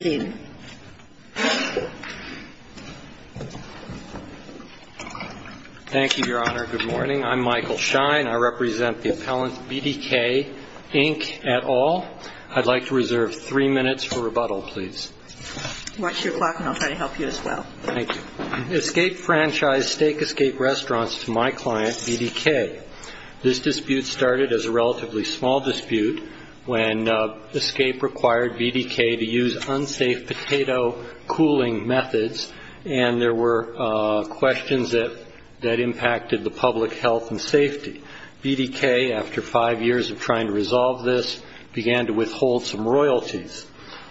Thank you, Your Honor. Good morning. I'm Michael Schein. I represent the appellant BDK, Inc. at all. I'd like to reserve three minutes for rebuttal, please. Watch your clock and I'll try to help you as well. Escape Franchise Steak Escape Restaurants to my client, BDK. This dispute started as a relatively small dispute when Escape required BDK to use unsafe potato cooling methods and there were questions that impacted the public health and safety. BDK, after five years of trying to resolve this, began to withhold some royalties.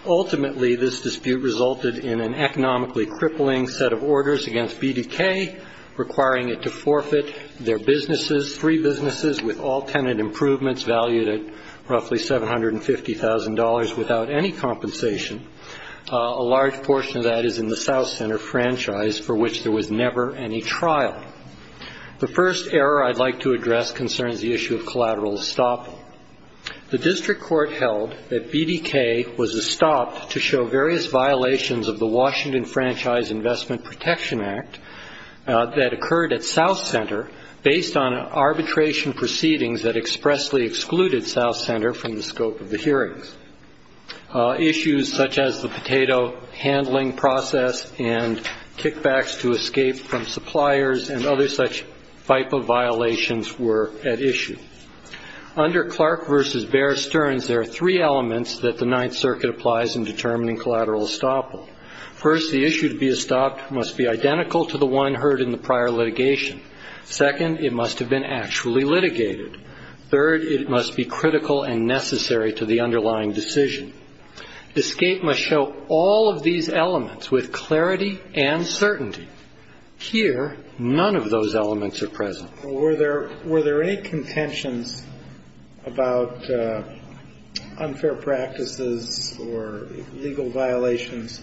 Ultimately, this dispute resulted in an economically crippling set of orders against BDK, requiring it to forfeit their businesses, three businesses, with all tenant improvements valued at roughly $750,000 without any compensation. A large portion of that is in the South Center franchise, for which there was never any trial. The first error I'd like to address concerns the issue of collateral estoppel. The district court held that BDK was estopped to show various violations of the Washington Franchise Investment Protection Act that occurred at South Center based on arbitration proceedings that expressly excluded South Center from the scope of the hearings. Issues such as the potato handling process and kickbacks to escape from suppliers and other such FIPA violations were at issue. Under Clark v. Bear Stearns, there are three elements that the Ninth Circuit applies in determining collateral estoppel. First, the issue to be estopped must be identical to the one heard in the prior litigation. Second, it must have been actually litigated. Third, it must be critical and necessary to the underlying decision. Escape must show all of these elements with clarity and certainty. Here, none of those elements are present. Were there any contentions about unfair practices or legal violations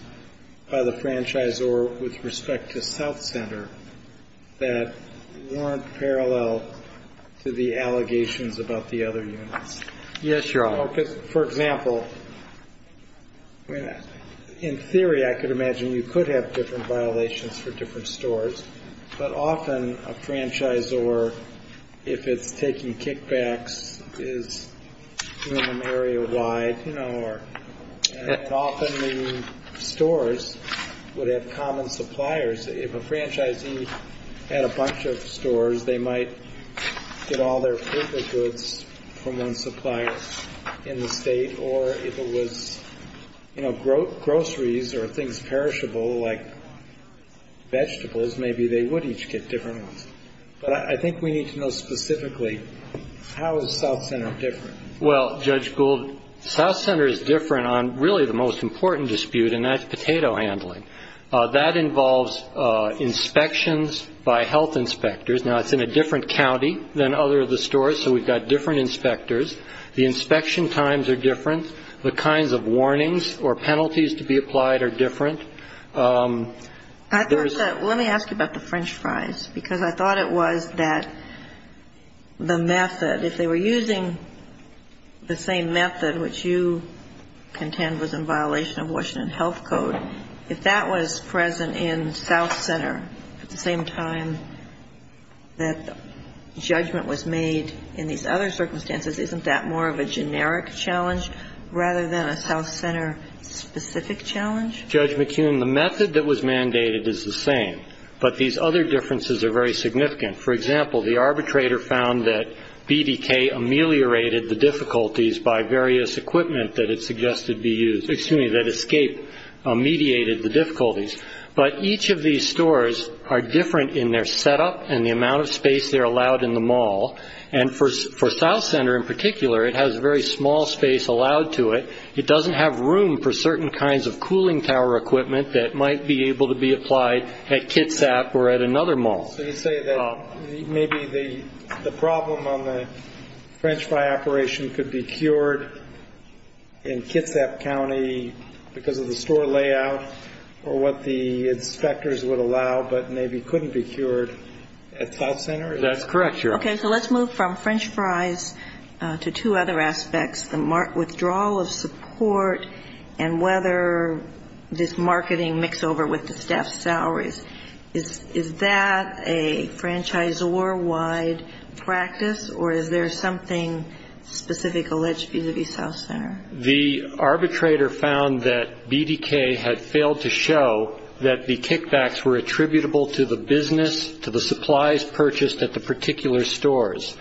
by the franchisor with respect to South Center that weren't parallel to the allegations about the other units? Yes, Your Honor. For example, in theory, I could imagine you could have different violations for different stores. But often a franchisor, if it's taking kickbacks, is doing them area-wide, you know, or often the stores would have common suppliers. If a franchisee had a bunch of stores, they might get all their FIPA goods from one supplier in the state. Or if it was, you know, groceries or things perishable like vegetables, maybe they would each get different ones. But I think we need to know specifically, how is South Center different? Well, Judge Gould, South Center is different on really the most important dispute, and that's potato handling. That involves inspections by health inspectors. Now, it's in a different county than other of the stores, so we've got different inspectors. The inspection times are different. The kinds of warnings or penalties to be applied are different. Let me ask you about the French fries, because I thought it was that the method, if they were using the same method which you contend was in violation of Washington health code, if that was present in South Center at the same time that judgment was made in these other circumstances, isn't that more of a generic challenge rather than a South Center-specific challenge? Judge McKeon, the method that was mandated is the same, but these other differences are very significant. For example, the arbitrator found that BDK ameliorated the difficulties by various equipment that it suggested be used, excuse me, that Escape mediated the difficulties. But each of these stores are different in their setup and the amount of space they're allowed in the mall. And for South Center in particular, it has very small space allowed to it. It doesn't have room for certain kinds of cooling tower equipment that might be able to be applied at Kitsap or at another mall. So you say that maybe the problem on the French fry operation could be cured in Kitsap County because of the store layout or what the inspectors would allow but maybe couldn't be cured at South Center? That's correct, Your Honor. Okay. So let's move from French fries to two other aspects, the withdrawal of support and whether this marketing mixover with the staff salaries, is that a franchisor-wide practice or is there something specific alleged to be the South Center? The arbitrator found that BDK had failed to show that the kickbacks were attributable to the business, to the supplies purchased at the particular stores.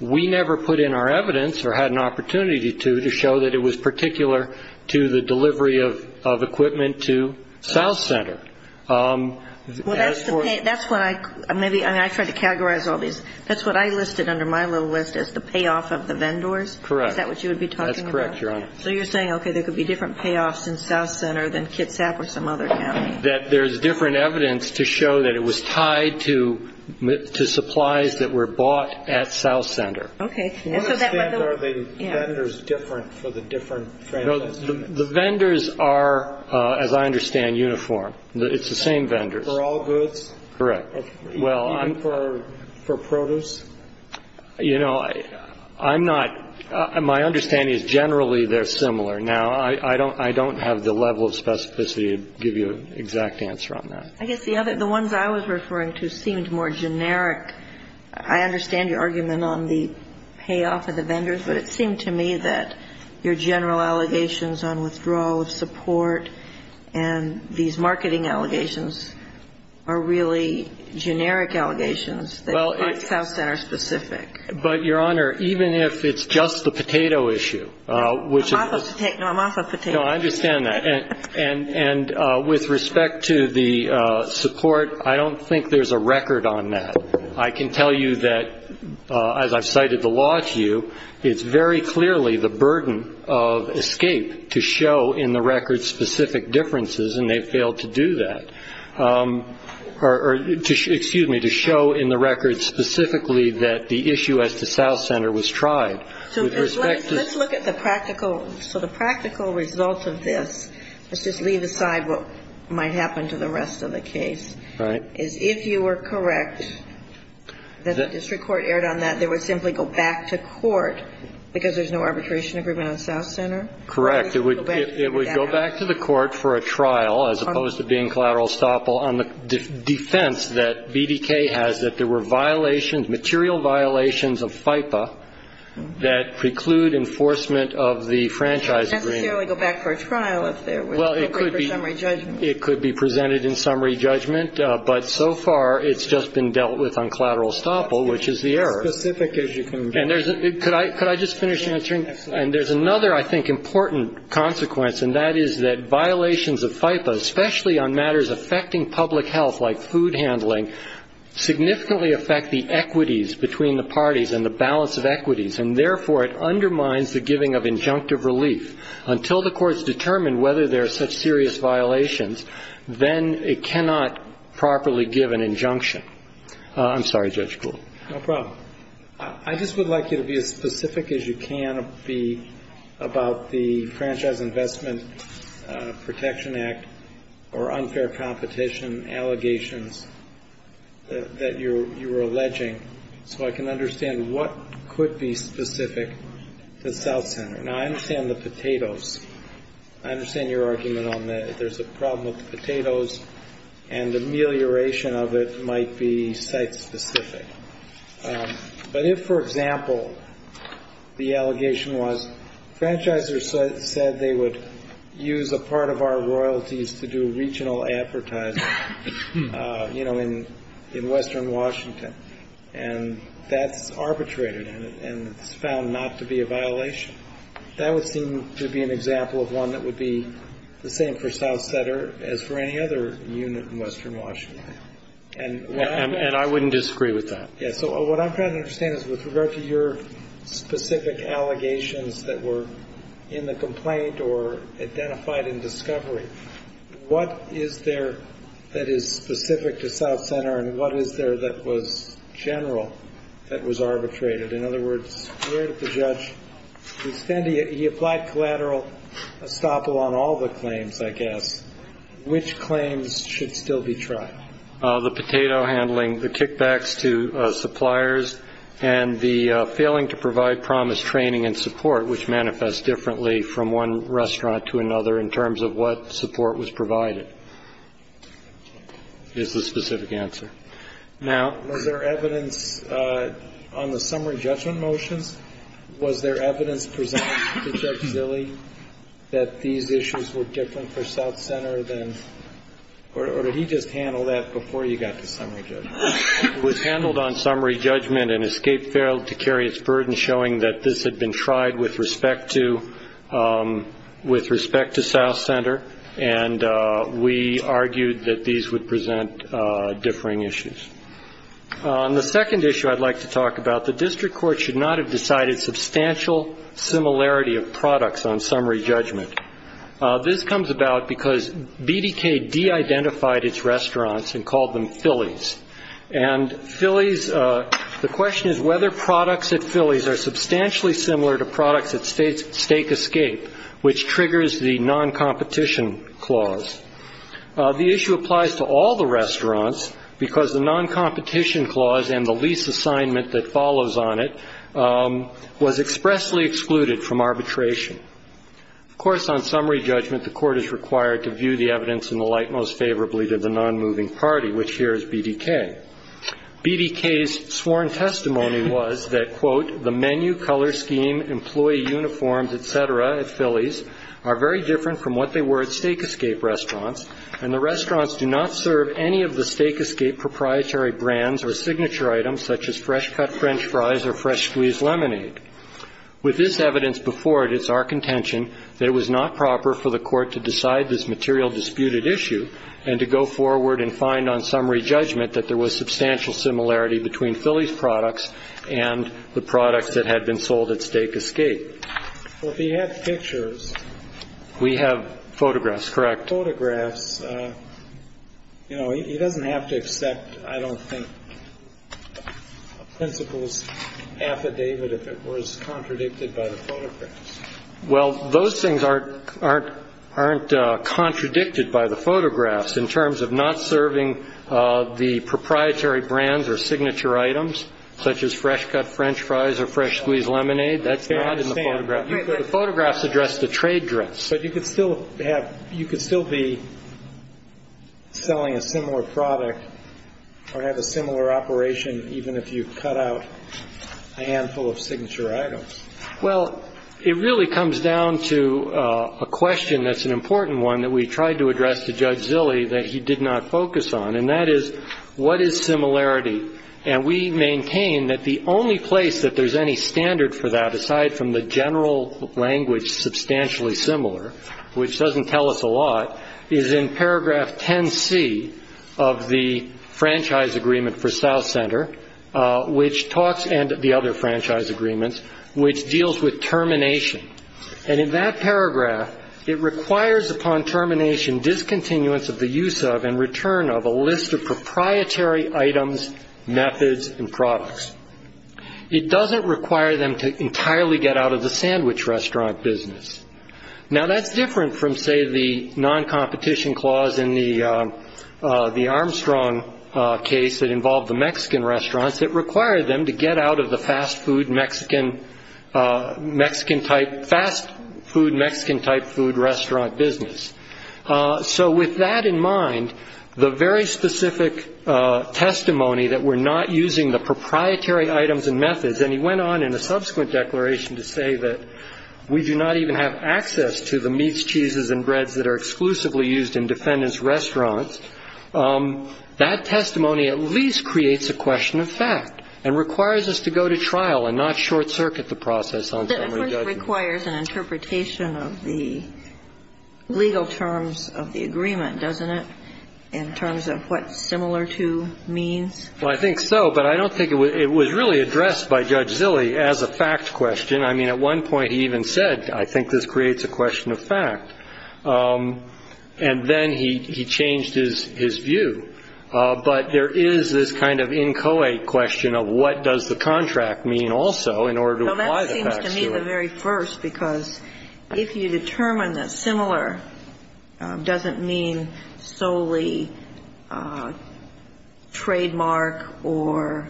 We never put in our evidence or had an opportunity to, to show that it was particular to the delivery of equipment to South Center. That's what I listed under my little list as the payoff of the vendors? Correct. Is that what you would be talking about? That's correct, Your Honor. So you're saying, okay, there could be different payoffs in South Center than Kitsap or some other county? That there's different evidence to show that it was tied to, to supplies that were bought at South Center. Okay. So that's what the... I understand are the vendors different for the different franchises? No, the vendors are, as I understand, uniform. It's the same vendors. For all goods? Correct. Even for, for produce? You know, I'm not, my understanding is generally they're similar. Now, I don't, I don't have the level of specificity to give you an exact answer on that. I guess the other, the ones I was referring to seemed more generic. I understand your argument on the payoff of the vendors, but it seemed to me that your general allegations on withdrawal of support and these marketing allegations are really generic allegations that aren't South Center specific. But, Your Honor, even if it's just the potato issue, which is... No, I'm off of potato. No, I understand that. And, and with respect to the support, I don't think there's a record on that. I can tell you that, as I've cited the law to you, it's very clearly the burden of escape to show in the record specific differences, and they've failed to do that. Or, excuse me, to show in the record specifically that the issue as to South Center was tried. So with respect to... Let's look at the practical... So the practical result of this... Let's just leave aside what might happen to the rest of the case. Right. Is if you were correct that the district court erred on that, they would simply go back to court because there's no arbitration agreement on South Center? Correct. It would go back to the court for a trial. As opposed to being collateral estoppel on the defense that BDK has that there were violations, material violations of FIPA that preclude enforcement of the franchise agreement. Not necessarily go back for a trial if there was... Well, it could be... Appropriate for summary judgment. It could be presented in summary judgment, but so far it's just been dealt with on collateral estoppel, which is the error. As specific as you can be. And there's... Could I just finish answering? Absolutely. And there's another, I think, important consequence, and that is that violations of FIPA, especially on matters affecting public health like food handling, significantly affect the equities between the parties and the balance of equities, and therefore it undermines the giving of injunctive relief. Until the courts determine whether there are such serious violations, then it cannot properly give an injunction. I'm sorry, Judge Gould. No problem. I just would like you to be as specific as you can be about the Franchise Investment Protection Act or unfair competition allegations that you are alleging, so I can understand what could be specific to South Center. Now, I understand the potatoes. I understand your argument on there's a problem with the potatoes, and the amelioration of it might be site-specific. But if, for example, the allegation was franchisers said they would use a part of our royalties to do regional advertising, you know, in Western Washington, and that's arbitrated and it's found not to be a violation, that would seem to be an example of one that would be the same for South Center as for any other unit in Western Washington. And I wouldn't disagree with that. So what I'm trying to understand is with regard to your specific allegations that were in the complaint or identified in discovery, what is there that is specific to South Center, and what is there that was general that was arbitrated? In other words, where did the judge extend it? He applied collateral estoppel on all the claims, I guess. Which claims should still be tried? The potato handling, the kickbacks to suppliers, and the failing to provide promised training and support, which manifests differently from one restaurant to another in terms of what support was provided is the specific answer. Now, was there evidence on the summary judgment motions, was there evidence presented to Judge Zille that these issues were different for South Center than, or did he just handle that before you got to summary judgment? It was handled on summary judgment and escape failed to carry its burden, showing that this had been tried with respect to South Center, and we argued that these would present differing issues. On the second issue I'd like to talk about, the district court should not have decided substantial similarity of products on summary judgment. This comes about because BDK de-identified its restaurants and called them Philly's. And Philly's, the question is whether products at Philly's are substantially similar to products at Steak Escape, which triggers the non-competition clause. The issue applies to all the restaurants because the non-competition clause and the lease assignment that follows on it was expressly excluded from arbitration. Of course, on summary judgment, the court is required to view the evidence in the light most favorably to the non-moving party, which here is BDK. The menu, color scheme, employee uniforms, et cetera, at Philly's, are very different from what they were at Steak Escape restaurants, and the restaurants do not serve any of the Steak Escape proprietary brands or signature items such as fresh-cut French fries or fresh-squeezed lemonade. With this evidence before it, it's our contention that it was not proper for the court to decide this material disputed issue and to go forward and find on summary judgment that there was substantial similarity between Philly's products and the products that had been sold at Steak Escape. Well, if he had pictures. We have photographs, correct. Photographs. You know, he doesn't have to accept, I don't think, a principal's affidavit if it was contradicted by the photographs. Well, those things aren't contradicted by the photographs. In terms of not serving the proprietary brands or signature items, such as fresh-cut French fries or fresh-squeezed lemonade, that's not in the photographs. The photographs address the trade dress. But you could still be selling a similar product or have a similar operation even if you cut out a handful of signature items. Well, it really comes down to a question that's an important one that we tried to address to Judge Zilley that he did not focus on, and that is what is similarity? And we maintain that the only place that there's any standard for that, aside from the general language substantially similar, which doesn't tell us a lot, is in paragraph 10C of the franchise agreement for South Center, which talks and the other franchise agreements, which deals with termination. And in that paragraph, it requires upon termination discontinuance of the use of and return of a list of proprietary items, methods, and products. It doesn't require them to entirely get out of the sandwich restaurant business. Now, that's different from, say, the non-competition clause in the Armstrong case that involved the Mexican restaurants. It required them to get out of the fast food Mexican-type restaurant business. So with that in mind, the very specific testimony that we're not using the proprietary items and methods, and he went on in a subsequent declaration to say that we do not even have access to the meats, cheeses, and breads that are exclusively used in defendant's restaurants, that testimony at least creates a question of fact and requires us to go to trial and not short-circuit the process on summary judgment. But it requires an interpretation of the legal terms of the agreement, doesn't it, in terms of what similar to means? Well, I think so, but I don't think it was really addressed by Judge Zille as a fact question. I mean, at one point he even said, I think this creates a question of fact. And then he changed his view. But there is this kind of inchoate question of what does the contract mean also in order to apply the facts to it. Well, that seems to me the very first, because if you determine that similar doesn't mean solely trademark or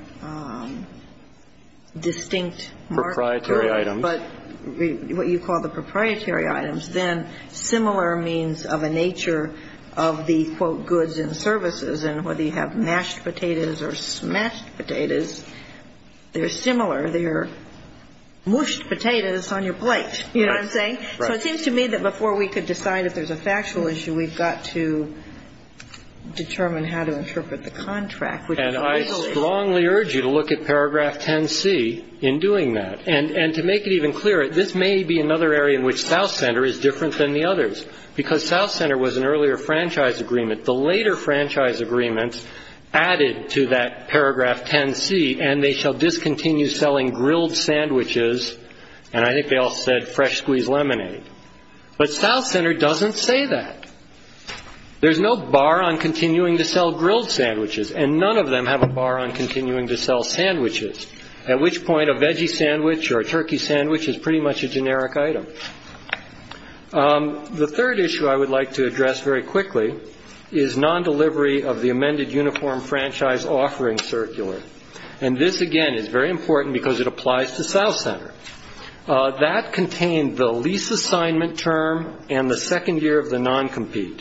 distinct market. Proprietary items. But what you call the proprietary items, then similar means of a nature of the, quote, goods and services. And whether you have mashed potatoes or smashed potatoes, they're similar. They're mushed potatoes on your plate. You know what I'm saying? Right. So it seems to me that before we could decide if there's a factual issue, we've got to determine how to interpret the contract. And I strongly urge you to look at paragraph 10C in doing that. And to make it even clearer, this may be another area in which South Center is different than the others. Because South Center was an earlier franchise agreement. The later franchise agreements added to that paragraph 10C, and they shall discontinue selling grilled sandwiches, and I think they all said fresh-squeezed lemonade. But South Center doesn't say that. There's no bar on continuing to sell grilled sandwiches. And none of them have a bar on continuing to sell sandwiches. At which point a veggie sandwich or a turkey sandwich is pretty much a generic item. The third issue I would like to address very quickly is non-delivery of the amended uniform franchise offering circular. And this, again, is very important because it applies to South Center. That contained the lease assignment term and the second year of the non-compete.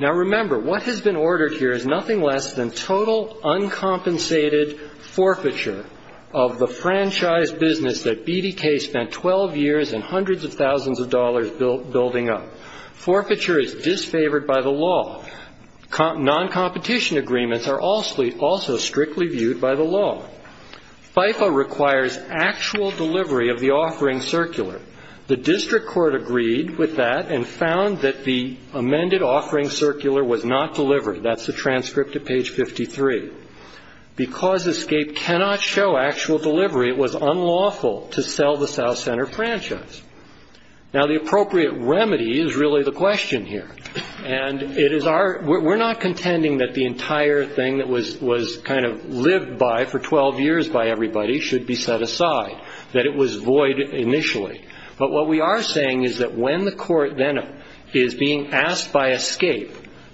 Now, remember, what has been ordered here is nothing less than total uncompensated forfeiture of the franchise business that BDK spent 12 years and hundreds of thousands of dollars building up. Forfeiture is disfavored by the law. Non-competition agreements are also strictly viewed by the law. FIFA requires actual delivery of the offering circular. The district court agreed with that and found that the amended offering circular was not delivered. That's the transcript at page 53. Because ESCAPE cannot show actual delivery, it was unlawful to sell the South Center franchise. Now, the appropriate remedy is really the question here. And it is our we're not contending that the entire thing that was kind of lived by for 12 years by everybody should be set aside. That it was void initially. But what we are saying is that when the court then is being asked by ESCAPE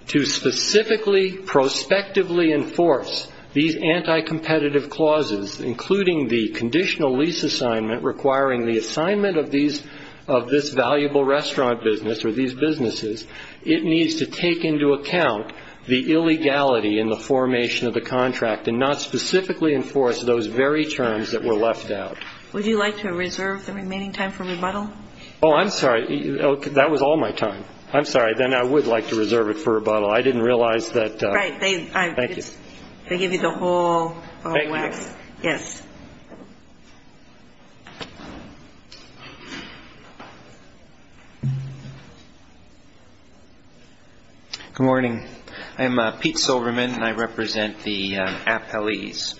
to specifically, prospectively enforce these anti-competitive clauses, including the conditional lease assignment requiring the assignment of this valuable restaurant business or these businesses, it needs to take into account the illegality in the formation of the contract and not specifically enforce those very terms that were left out. Would you like to reserve the remaining time for rebuttal? Oh, I'm sorry. That was all my time. I'm sorry. Then I would like to reserve it for rebuttal. I didn't realize that. Right. Thank you. They give you the whole wax. Yes. Good morning. I'm Pete Silverman, and I represent the appellees.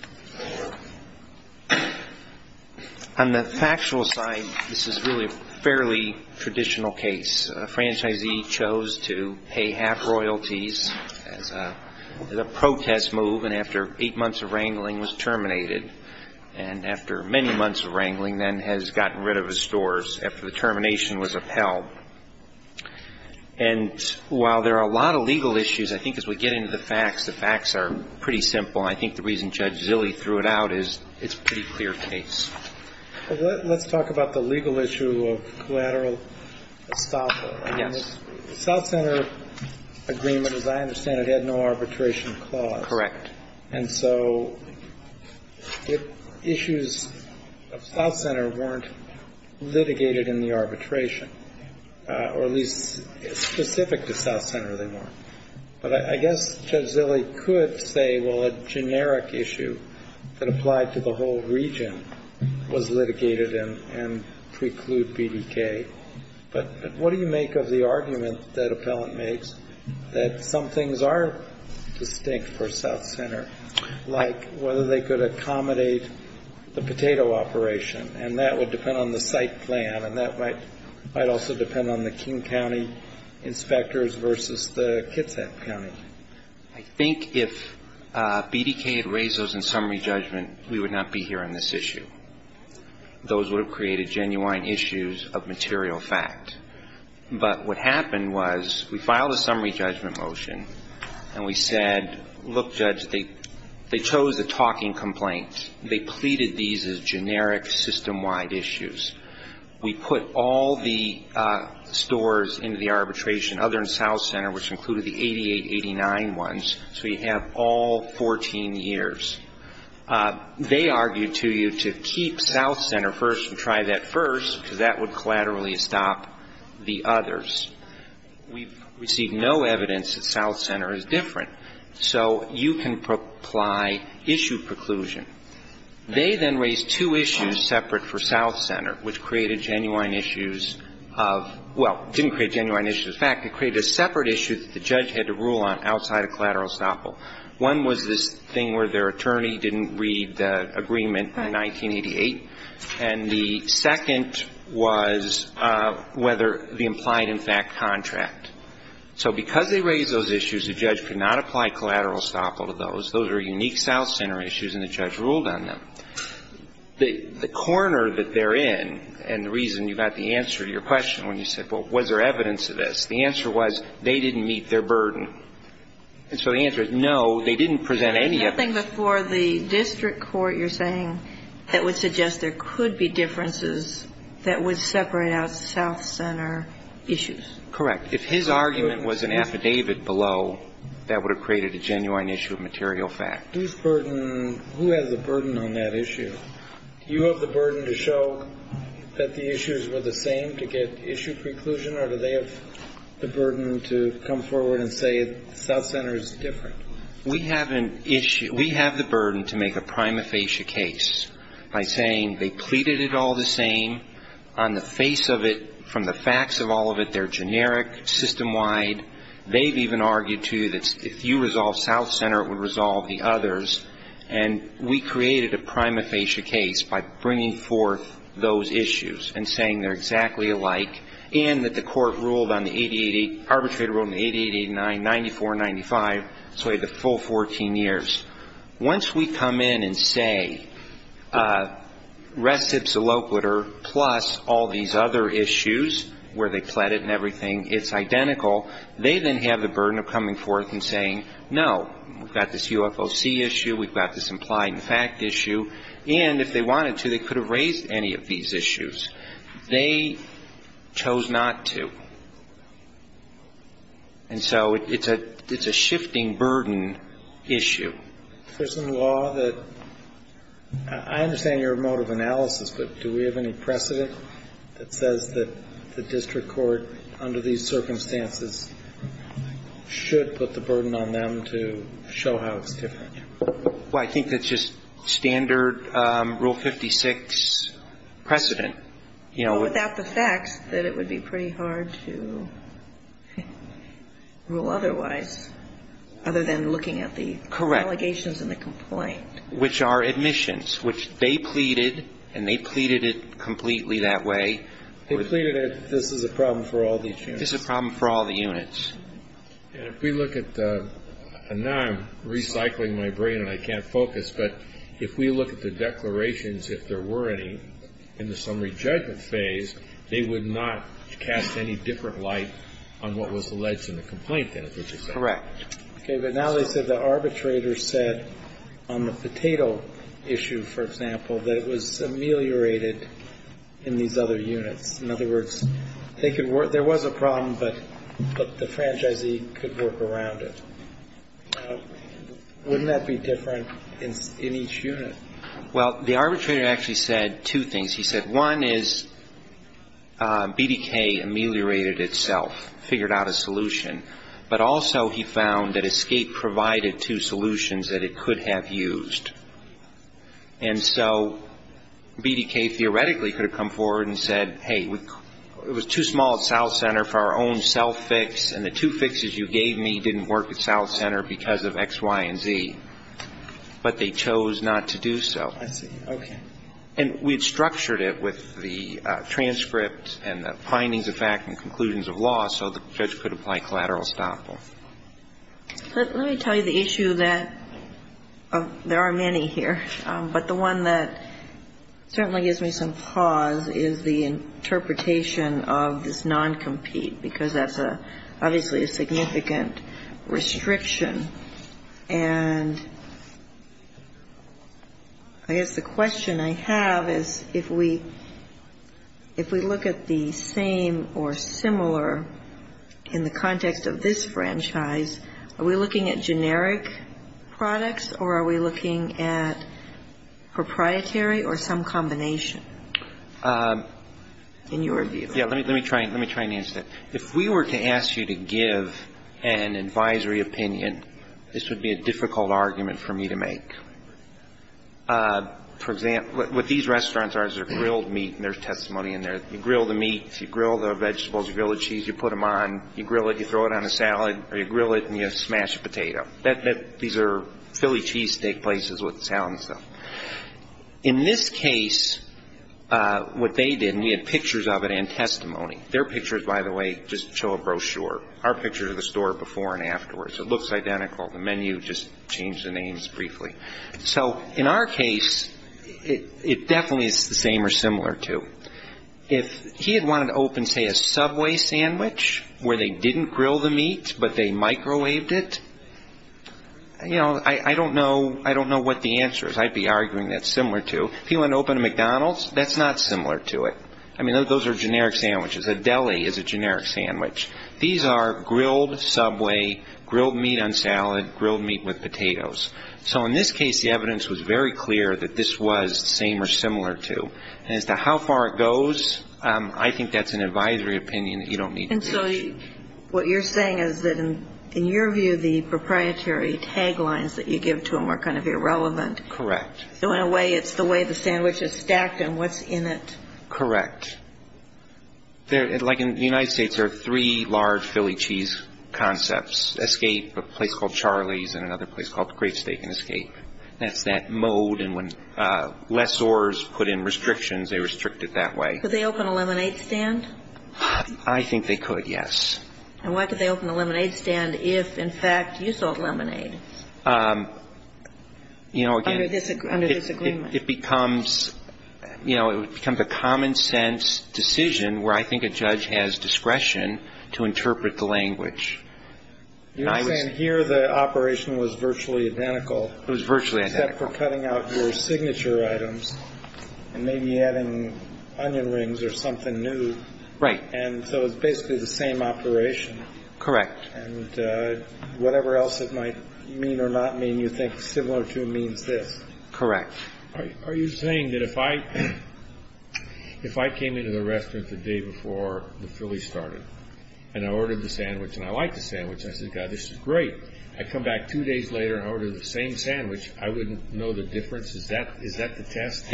On the factual side, this is really a fairly traditional case. A franchisee chose to pay half royalties as a protest move and after eight months of wrangling was terminated and after many months of wrangling then has gotten rid of his stores after the termination was upheld. And while there are a lot of legal issues, I think as we get into the facts, the facts are pretty simple. I think the reason Judge Zilley threw it out is it's a pretty clear case. Let's talk about the legal issue of collateral estoppel. Yes. South Center agreement, as I understand it, had no arbitration clause. Correct. And so issues of South Center weren't litigated in the arbitration, or at least specific to South Center they weren't. But I guess Judge Zilley could say, well, a generic issue that applied to the whole region was litigated and preclude BDK. But what do you make of the argument that appellant makes that some things are distinct for South Center, like whether they could accommodate the potato operation, and that would depend on the site plan and that might also depend on the King County inspectors versus the Kitsap County. I think if BDK had raised those in summary judgment, we would not be here on this issue. Those would have created genuine issues of material fact. But what happened was we filed a summary judgment motion, and we said, look, Judge, they chose a talking complaint. They pleaded these as generic system-wide issues. We put all the stores into the arbitration other than South Center, which included the 88-89 ones, so you have all 14 years. They argued to you to keep South Center first and try that first, because that would collaterally stop the others. We've received no evidence that South Center is different. So you can apply issue preclusion. They then raised two issues separate for South Center, which created genuine issues of – well, didn't create genuine issues of fact. It created a separate issue that the judge had to rule on outside of collateral estoppel. One was this thing where their attorney didn't read the agreement in 1988. And the second was whether the implied in fact contract. So because they raised those issues, the judge could not apply collateral estoppel to those. Those are unique South Center issues, and the judge ruled on them. The corner that they're in, and the reason you got the answer to your question when you said, well, was there evidence of this, the answer was they didn't meet their burden. And so the answer is no, they didn't present any evidence. There's nothing before the district court, you're saying, that would suggest there could be differences that would separate out South Center issues. Correct. If his argument was an affidavit below, that would have created a genuine issue of material fact. Whose burden – who has a burden on that issue? Do you have the burden to show that the issues were the same to get issue preclusion, or do they have the burden to come forward and say South Center is different? We have an issue – we have the burden to make a prima facie case by saying they pleaded it all the same. On the face of it, from the facts of all of it, they're generic, system-wide. They've even argued, too, that if you resolve South Center, it would resolve the others. And we created a prima facie case by bringing forth those issues and saying they're exactly alike and that the court ruled on the 888 – arbitrated rule on the 8889, 94, 95, so we have the full 14 years. Once we come in and say recipsalopiter plus all these other issues where they pleaded and everything, it's identical, they then have the burden of coming forth and saying, no, we've got this UFOC issue, we've got this implied-in-fact issue, and if they wanted to, they could have raised any of these issues. They chose not to. And so it's a shifting burden issue. There's some law that – I understand your mode of analysis, but do we have any precedent that says that the district court, under these circumstances, should put the burden on them to show how it's different? Well, I think that's just standard Rule 56 precedent. Well, without the facts, that it would be pretty hard to rule otherwise, other than looking at the allegations and the complaint. Correct. Which are admissions, which they pleaded, and they pleaded it completely that way. They pleaded it, this is a problem for all these units. This is a problem for all the units. And if we look at the – and now I'm recycling my brain and I can't focus, but if we look at the declarations, if there were any, in the summary judgment phase, they would not cast any different light on what was alleged in the complaint then, would you say? Correct. Okay. But now they said the arbitrator said on the potato issue, for example, that it was ameliorated in these other units. In other words, there was a problem, but the franchisee could work around it. Wouldn't that be different in each unit? Well, the arbitrator actually said two things. He said one is BDK ameliorated itself, figured out a solution, but also he found that ESCAPE provided two solutions that it could have used. And so BDK theoretically could have come forward and said, hey, it was too small at South Center for our own self-fix, and the two fixes you gave me didn't work at South Center because of X, Y, and Z. But they chose not to do so. I see. Okay. And we had structured it with the transcript and the findings of fact and conclusions of law so the judge could apply collateral estoppel. Let me tell you the issue that there are many here, but the one that certainly gives me some pause is the interpretation of this non-compete because that's obviously a significant restriction. And I guess the question I have is if we look at the same or similar in the context of this franchise, are we looking at generic products or are we looking at proprietary or some combination in your view? Yeah, let me try and answer that. If we were to ask you to give an advisory opinion, this would be a difficult argument for me to make. For example, what these restaurants are is they're grilled meat, and there's testimony in there. You grill the meat, you grill the vegetables, you grill the cheese, you put them on, you grill it, you throw it on a salad, or you grill it and you smash a potato. These are Philly cheesesteak places with salad and stuff. In this case, what they did, and we had pictures of it and testimony. Their pictures, by the way, just show a brochure. Our pictures are the store before and afterwards. It looks identical. The menu, just change the names briefly. So in our case, it definitely is the same or similar too. If he had wanted to open, say, a Subway sandwich where they didn't grill the meat, but they microwaved it, I don't know what the answer is. I'd be arguing that's similar too. If he wanted to open a McDonald's, that's not similar to it. I mean, those are generic sandwiches. A deli is a generic sandwich. These are grilled Subway, grilled meat on salad, grilled meat with potatoes. So in this case, the evidence was very clear that this was the same or similar too. As to how far it goes, I think that's an advisory opinion that you don't need to reach. And so what you're saying is that, in your view, the proprietary tag lines that you give to them are kind of irrelevant. Correct. So in a way, it's the way the sandwich is stacked and what's in it. Correct. Like in the United States, there are three large Philly cheese concepts, Escape, a place called Charlie's, and another place called Great Steak and Escape. I think that's the way it is. I mean, I think that's the way it is. That's that mode. And when lessors put in restrictions, they restrict it that way. Could they open a lemonade stand? I think they could, yes. And why could they open a lemonade stand if, in fact, you sold lemonade? You know, again, it becomes, you know, it becomes a common sense decision where I think a judge has discretion to interpret the language. You're saying here the operation was virtually identical. It was virtually identical. Except for cutting out your signature items and maybe adding onion rings or something new. Right. And so it's basically the same operation. Correct. And whatever else it might mean or not mean, you think similar to means this. Correct. Are you saying that if I came into the restaurant the day before the Philly started and I ordered the sandwich and I liked the sandwich, I said, God, this is great. I come back two days later and I order the same sandwich, I wouldn't know the difference? Is that the test?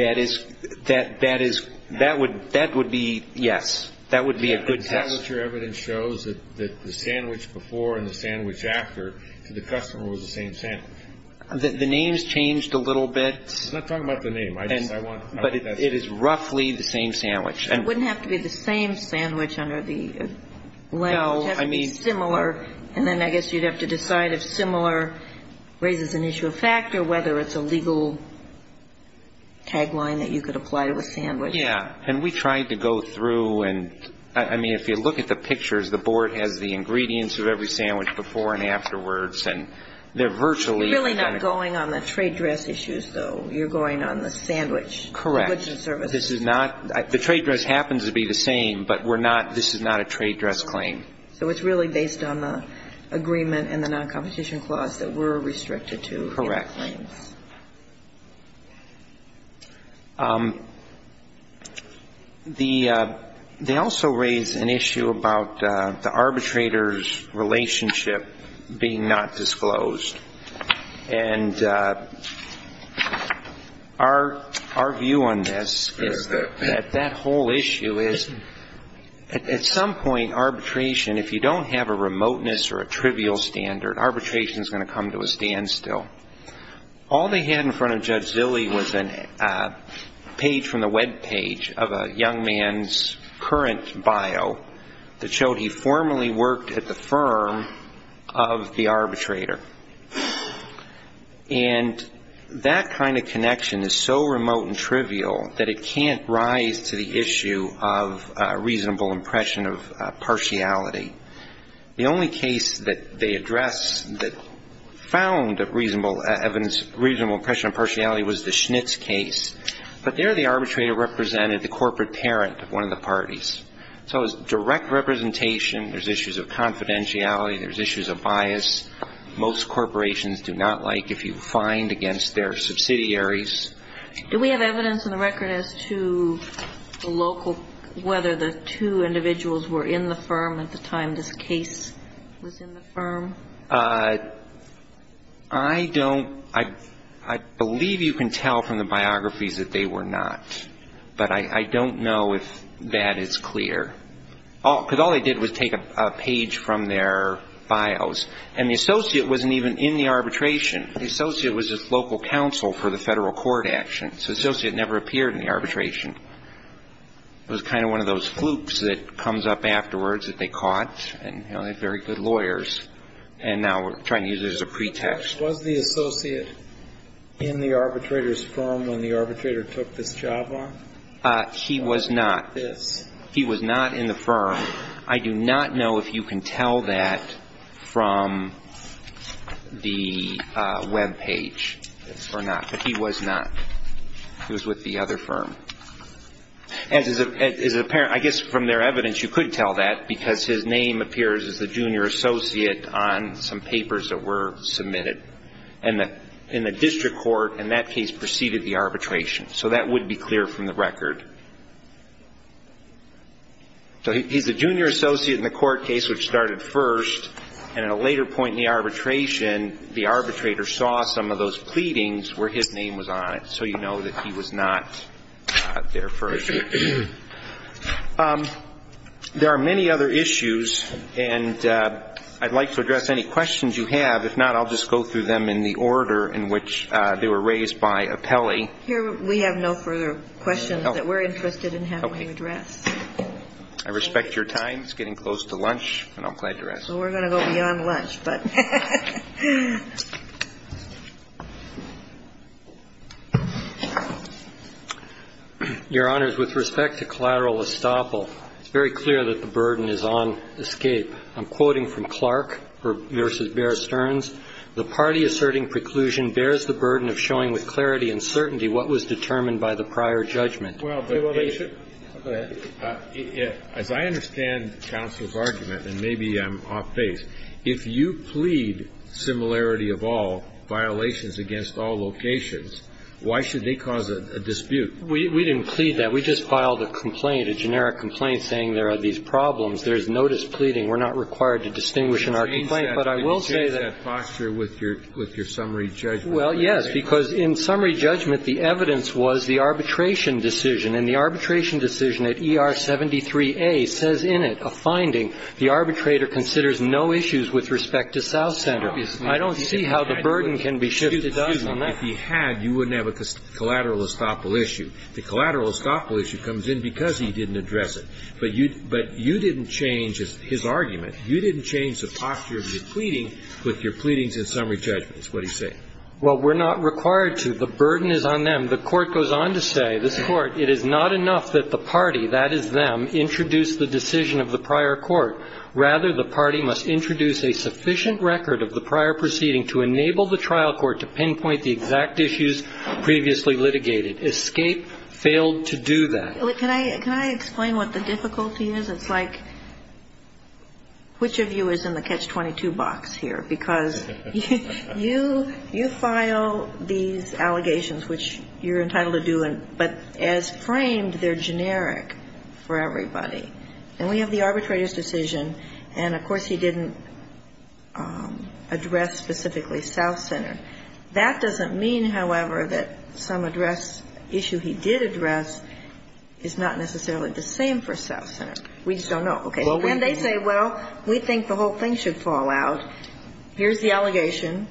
That would be yes. That would be a good test. The tablature evidence shows that the sandwich before and the sandwich after to the customer was the same sandwich. The names changed a little bit. I'm not talking about the name. But it is roughly the same sandwich. It wouldn't have to be the same sandwich under the legislation. No. It would have to be similar, and then I guess you'd have to decide if similar raises an issue of fact or whether it's a legal tagline that you could apply to a sandwich. Yeah. And we tried to go through and, I mean, if you look at the pictures, the board has the ingredients of every sandwich before and afterwards, and they're virtually identical. If you're going on the trade dress issues, though, you're going on the sandwich. Correct. This is not, the trade dress happens to be the same, but we're not, this is not a trade dress claim. So it's really based on the agreement and the non-competition clause that we're restricted to. Correct. They also raise an issue about the arbitrator's relationship being not disclosed. And our view on this is that that whole issue is at some point arbitration, if you don't have a remoteness or a trivial standard, arbitration is going to come to a standstill. All they had in front of Judge Zille was a page from the web page of a young man's current bio that showed he formerly worked at the firm of the arbitrator. And that kind of connection is so remote and trivial that it can't rise to the issue of a reasonable impression of partiality. The only case that they addressed that found a reasonable impression of partiality was the Schnitz case. But there the arbitrator represented the corporate parent of one of the parties. So it was direct representation, there's issues of confidentiality, there's issues of bias. Most corporations do not like if you find against their subsidiaries. Do we have evidence in the record as to the local, whether the two individuals were in the firm at the time this case was in the firm? I don't. I believe you can tell from the biographies that they were not. But I don't know if that is clear. Because all they did was take a page from their bios. And the associate wasn't even in the arbitration. The associate was just local counsel for the federal court action. So the associate never appeared in the arbitration. It was kind of one of those flukes that comes up afterwards that they caught. And they had very good lawyers. And now we're trying to use it as a pretext. Was the associate in the arbitrator's firm when the arbitrator took this job on? He was not. He was not in the firm. I do not know if you can tell that from the Web page or not. But he was not. He was with the other firm. I guess from their evidence you could tell that, because his name appears as the junior associate on some papers that were submitted. And in the district court, in that case, preceded the arbitration. So that would be clear from the record. So he's the junior associate in the court case which started first. And at a later point in the arbitration, the arbitrator saw some of those pleadings where his name was on it. So you know that he was not there first. There are many other issues. And I'd like to address any questions you have. If not, I'll just go through them in the order in which they were raised by appellee. Here we have no further questions that we're interested in having addressed. I respect your time. It's getting close to lunch, and I'm glad you're asking. So we're going to go beyond lunch, but. Your Honor, with respect to collateral estoppel, it's very clear that the burden is on escape. I'm quoting from Clark v. Bear Stearns. The party asserting preclusion bears the burden of showing with clarity and certainty what was determined by the prior judgment. Well, but, As I understand counsel's argument, and maybe I'm off base, if you plead similarity of all, violations against all locations, why should they cause a dispute? We didn't plead that. We just filed a complaint, a generic complaint, saying there are these problems. There is no displeading. We're not required to distinguish in our complaint. But I will say that. Change that posture with your summary judgment. Well, yes, because in summary judgment, the evidence was the arbitration decision. And the arbitration decision at ER 73A says in it, a finding, the arbitrator considers no issues with respect to South Center. I don't see how the burden can be shifted on that. If he had, you wouldn't have a collateral estoppel issue. The collateral estoppel issue comes in because he didn't address it. But you didn't change his argument. You didn't change the posture of your pleading with your pleadings in summary judgments, what he's saying. Well, we're not required to. The burden is on them. The Court goes on to say, this Court, it is not enough that the party, that is, them, introduce the decision of the prior court. Rather, the party must introduce a sufficient record of the prior proceeding to enable the trial court to pinpoint the exact issues previously litigated. Escape failed to do that. Can I explain what the difficulty is? It's like, which of you is in the catch-22 box here? Because you file these allegations, which you're entitled to do, but as framed, they're generic for everybody. And we have the arbitrator's decision. And, of course, he didn't address specifically South Center. That doesn't mean, however, that some issue he did address is not necessarily the same for South Center. We just don't know. Okay. And they say, well, we think the whole thing should fall out. Here's the allegation.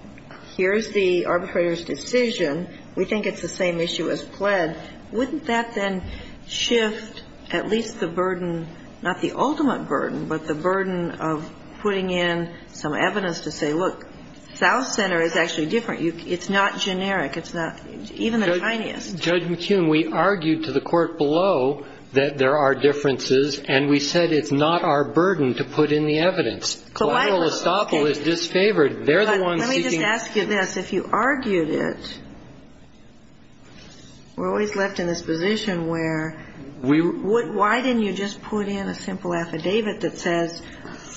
Here's the arbitrator's decision. We think it's the same issue as pled. Wouldn't that then shift at least the burden, not the ultimate burden, but the burden of putting in some evidence to say, look, South Center is actually different. It's not generic. It's not even the tiniest. Judge McKeon, we argued to the court below that there are differences, and we said it's not our burden to put in the evidence. Collateral estoppel is disfavored. They're the ones seeking. Let me just ask you this. If you argued it, we're always left in this position where why didn't you just put in a simple affidavit that says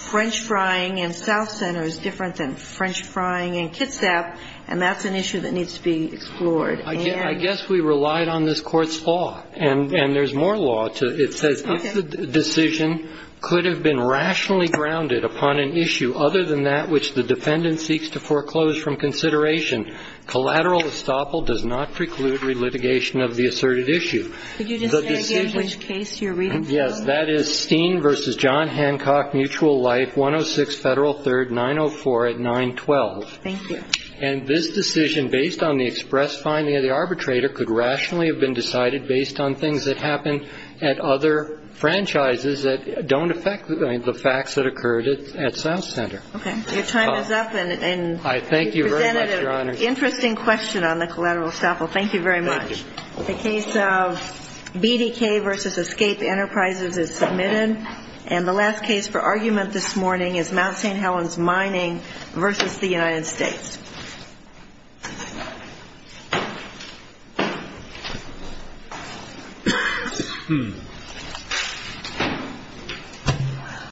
French frying in South Center is different than French frying in Kitsap, and that's an issue that needs to be explored. I guess we relied on this Court's law, and there's more law. It says if the decision could have been rationally grounded upon an issue other than that which the defendant seeks to foreclose from consideration, collateral estoppel does not preclude relitigation of the asserted issue. Could you just say again which case you're reading from? Yes. That is Steen v. John Hancock, Mutual Life, 106 Federal 3rd, 904 at 912. Thank you. And this decision, based on the express finding of the arbitrator, could rationally have been decided based on things that happened at other franchises that don't affect the facts that occurred at South Center. Okay. Your time is up, and you presented an interesting question on the collateral estoppel. Thank you very much. Thank you. The case of BDK v. Escape Enterprises is submitted, and the last case for argument this morning is Mount St. Helens Mining v. the United States.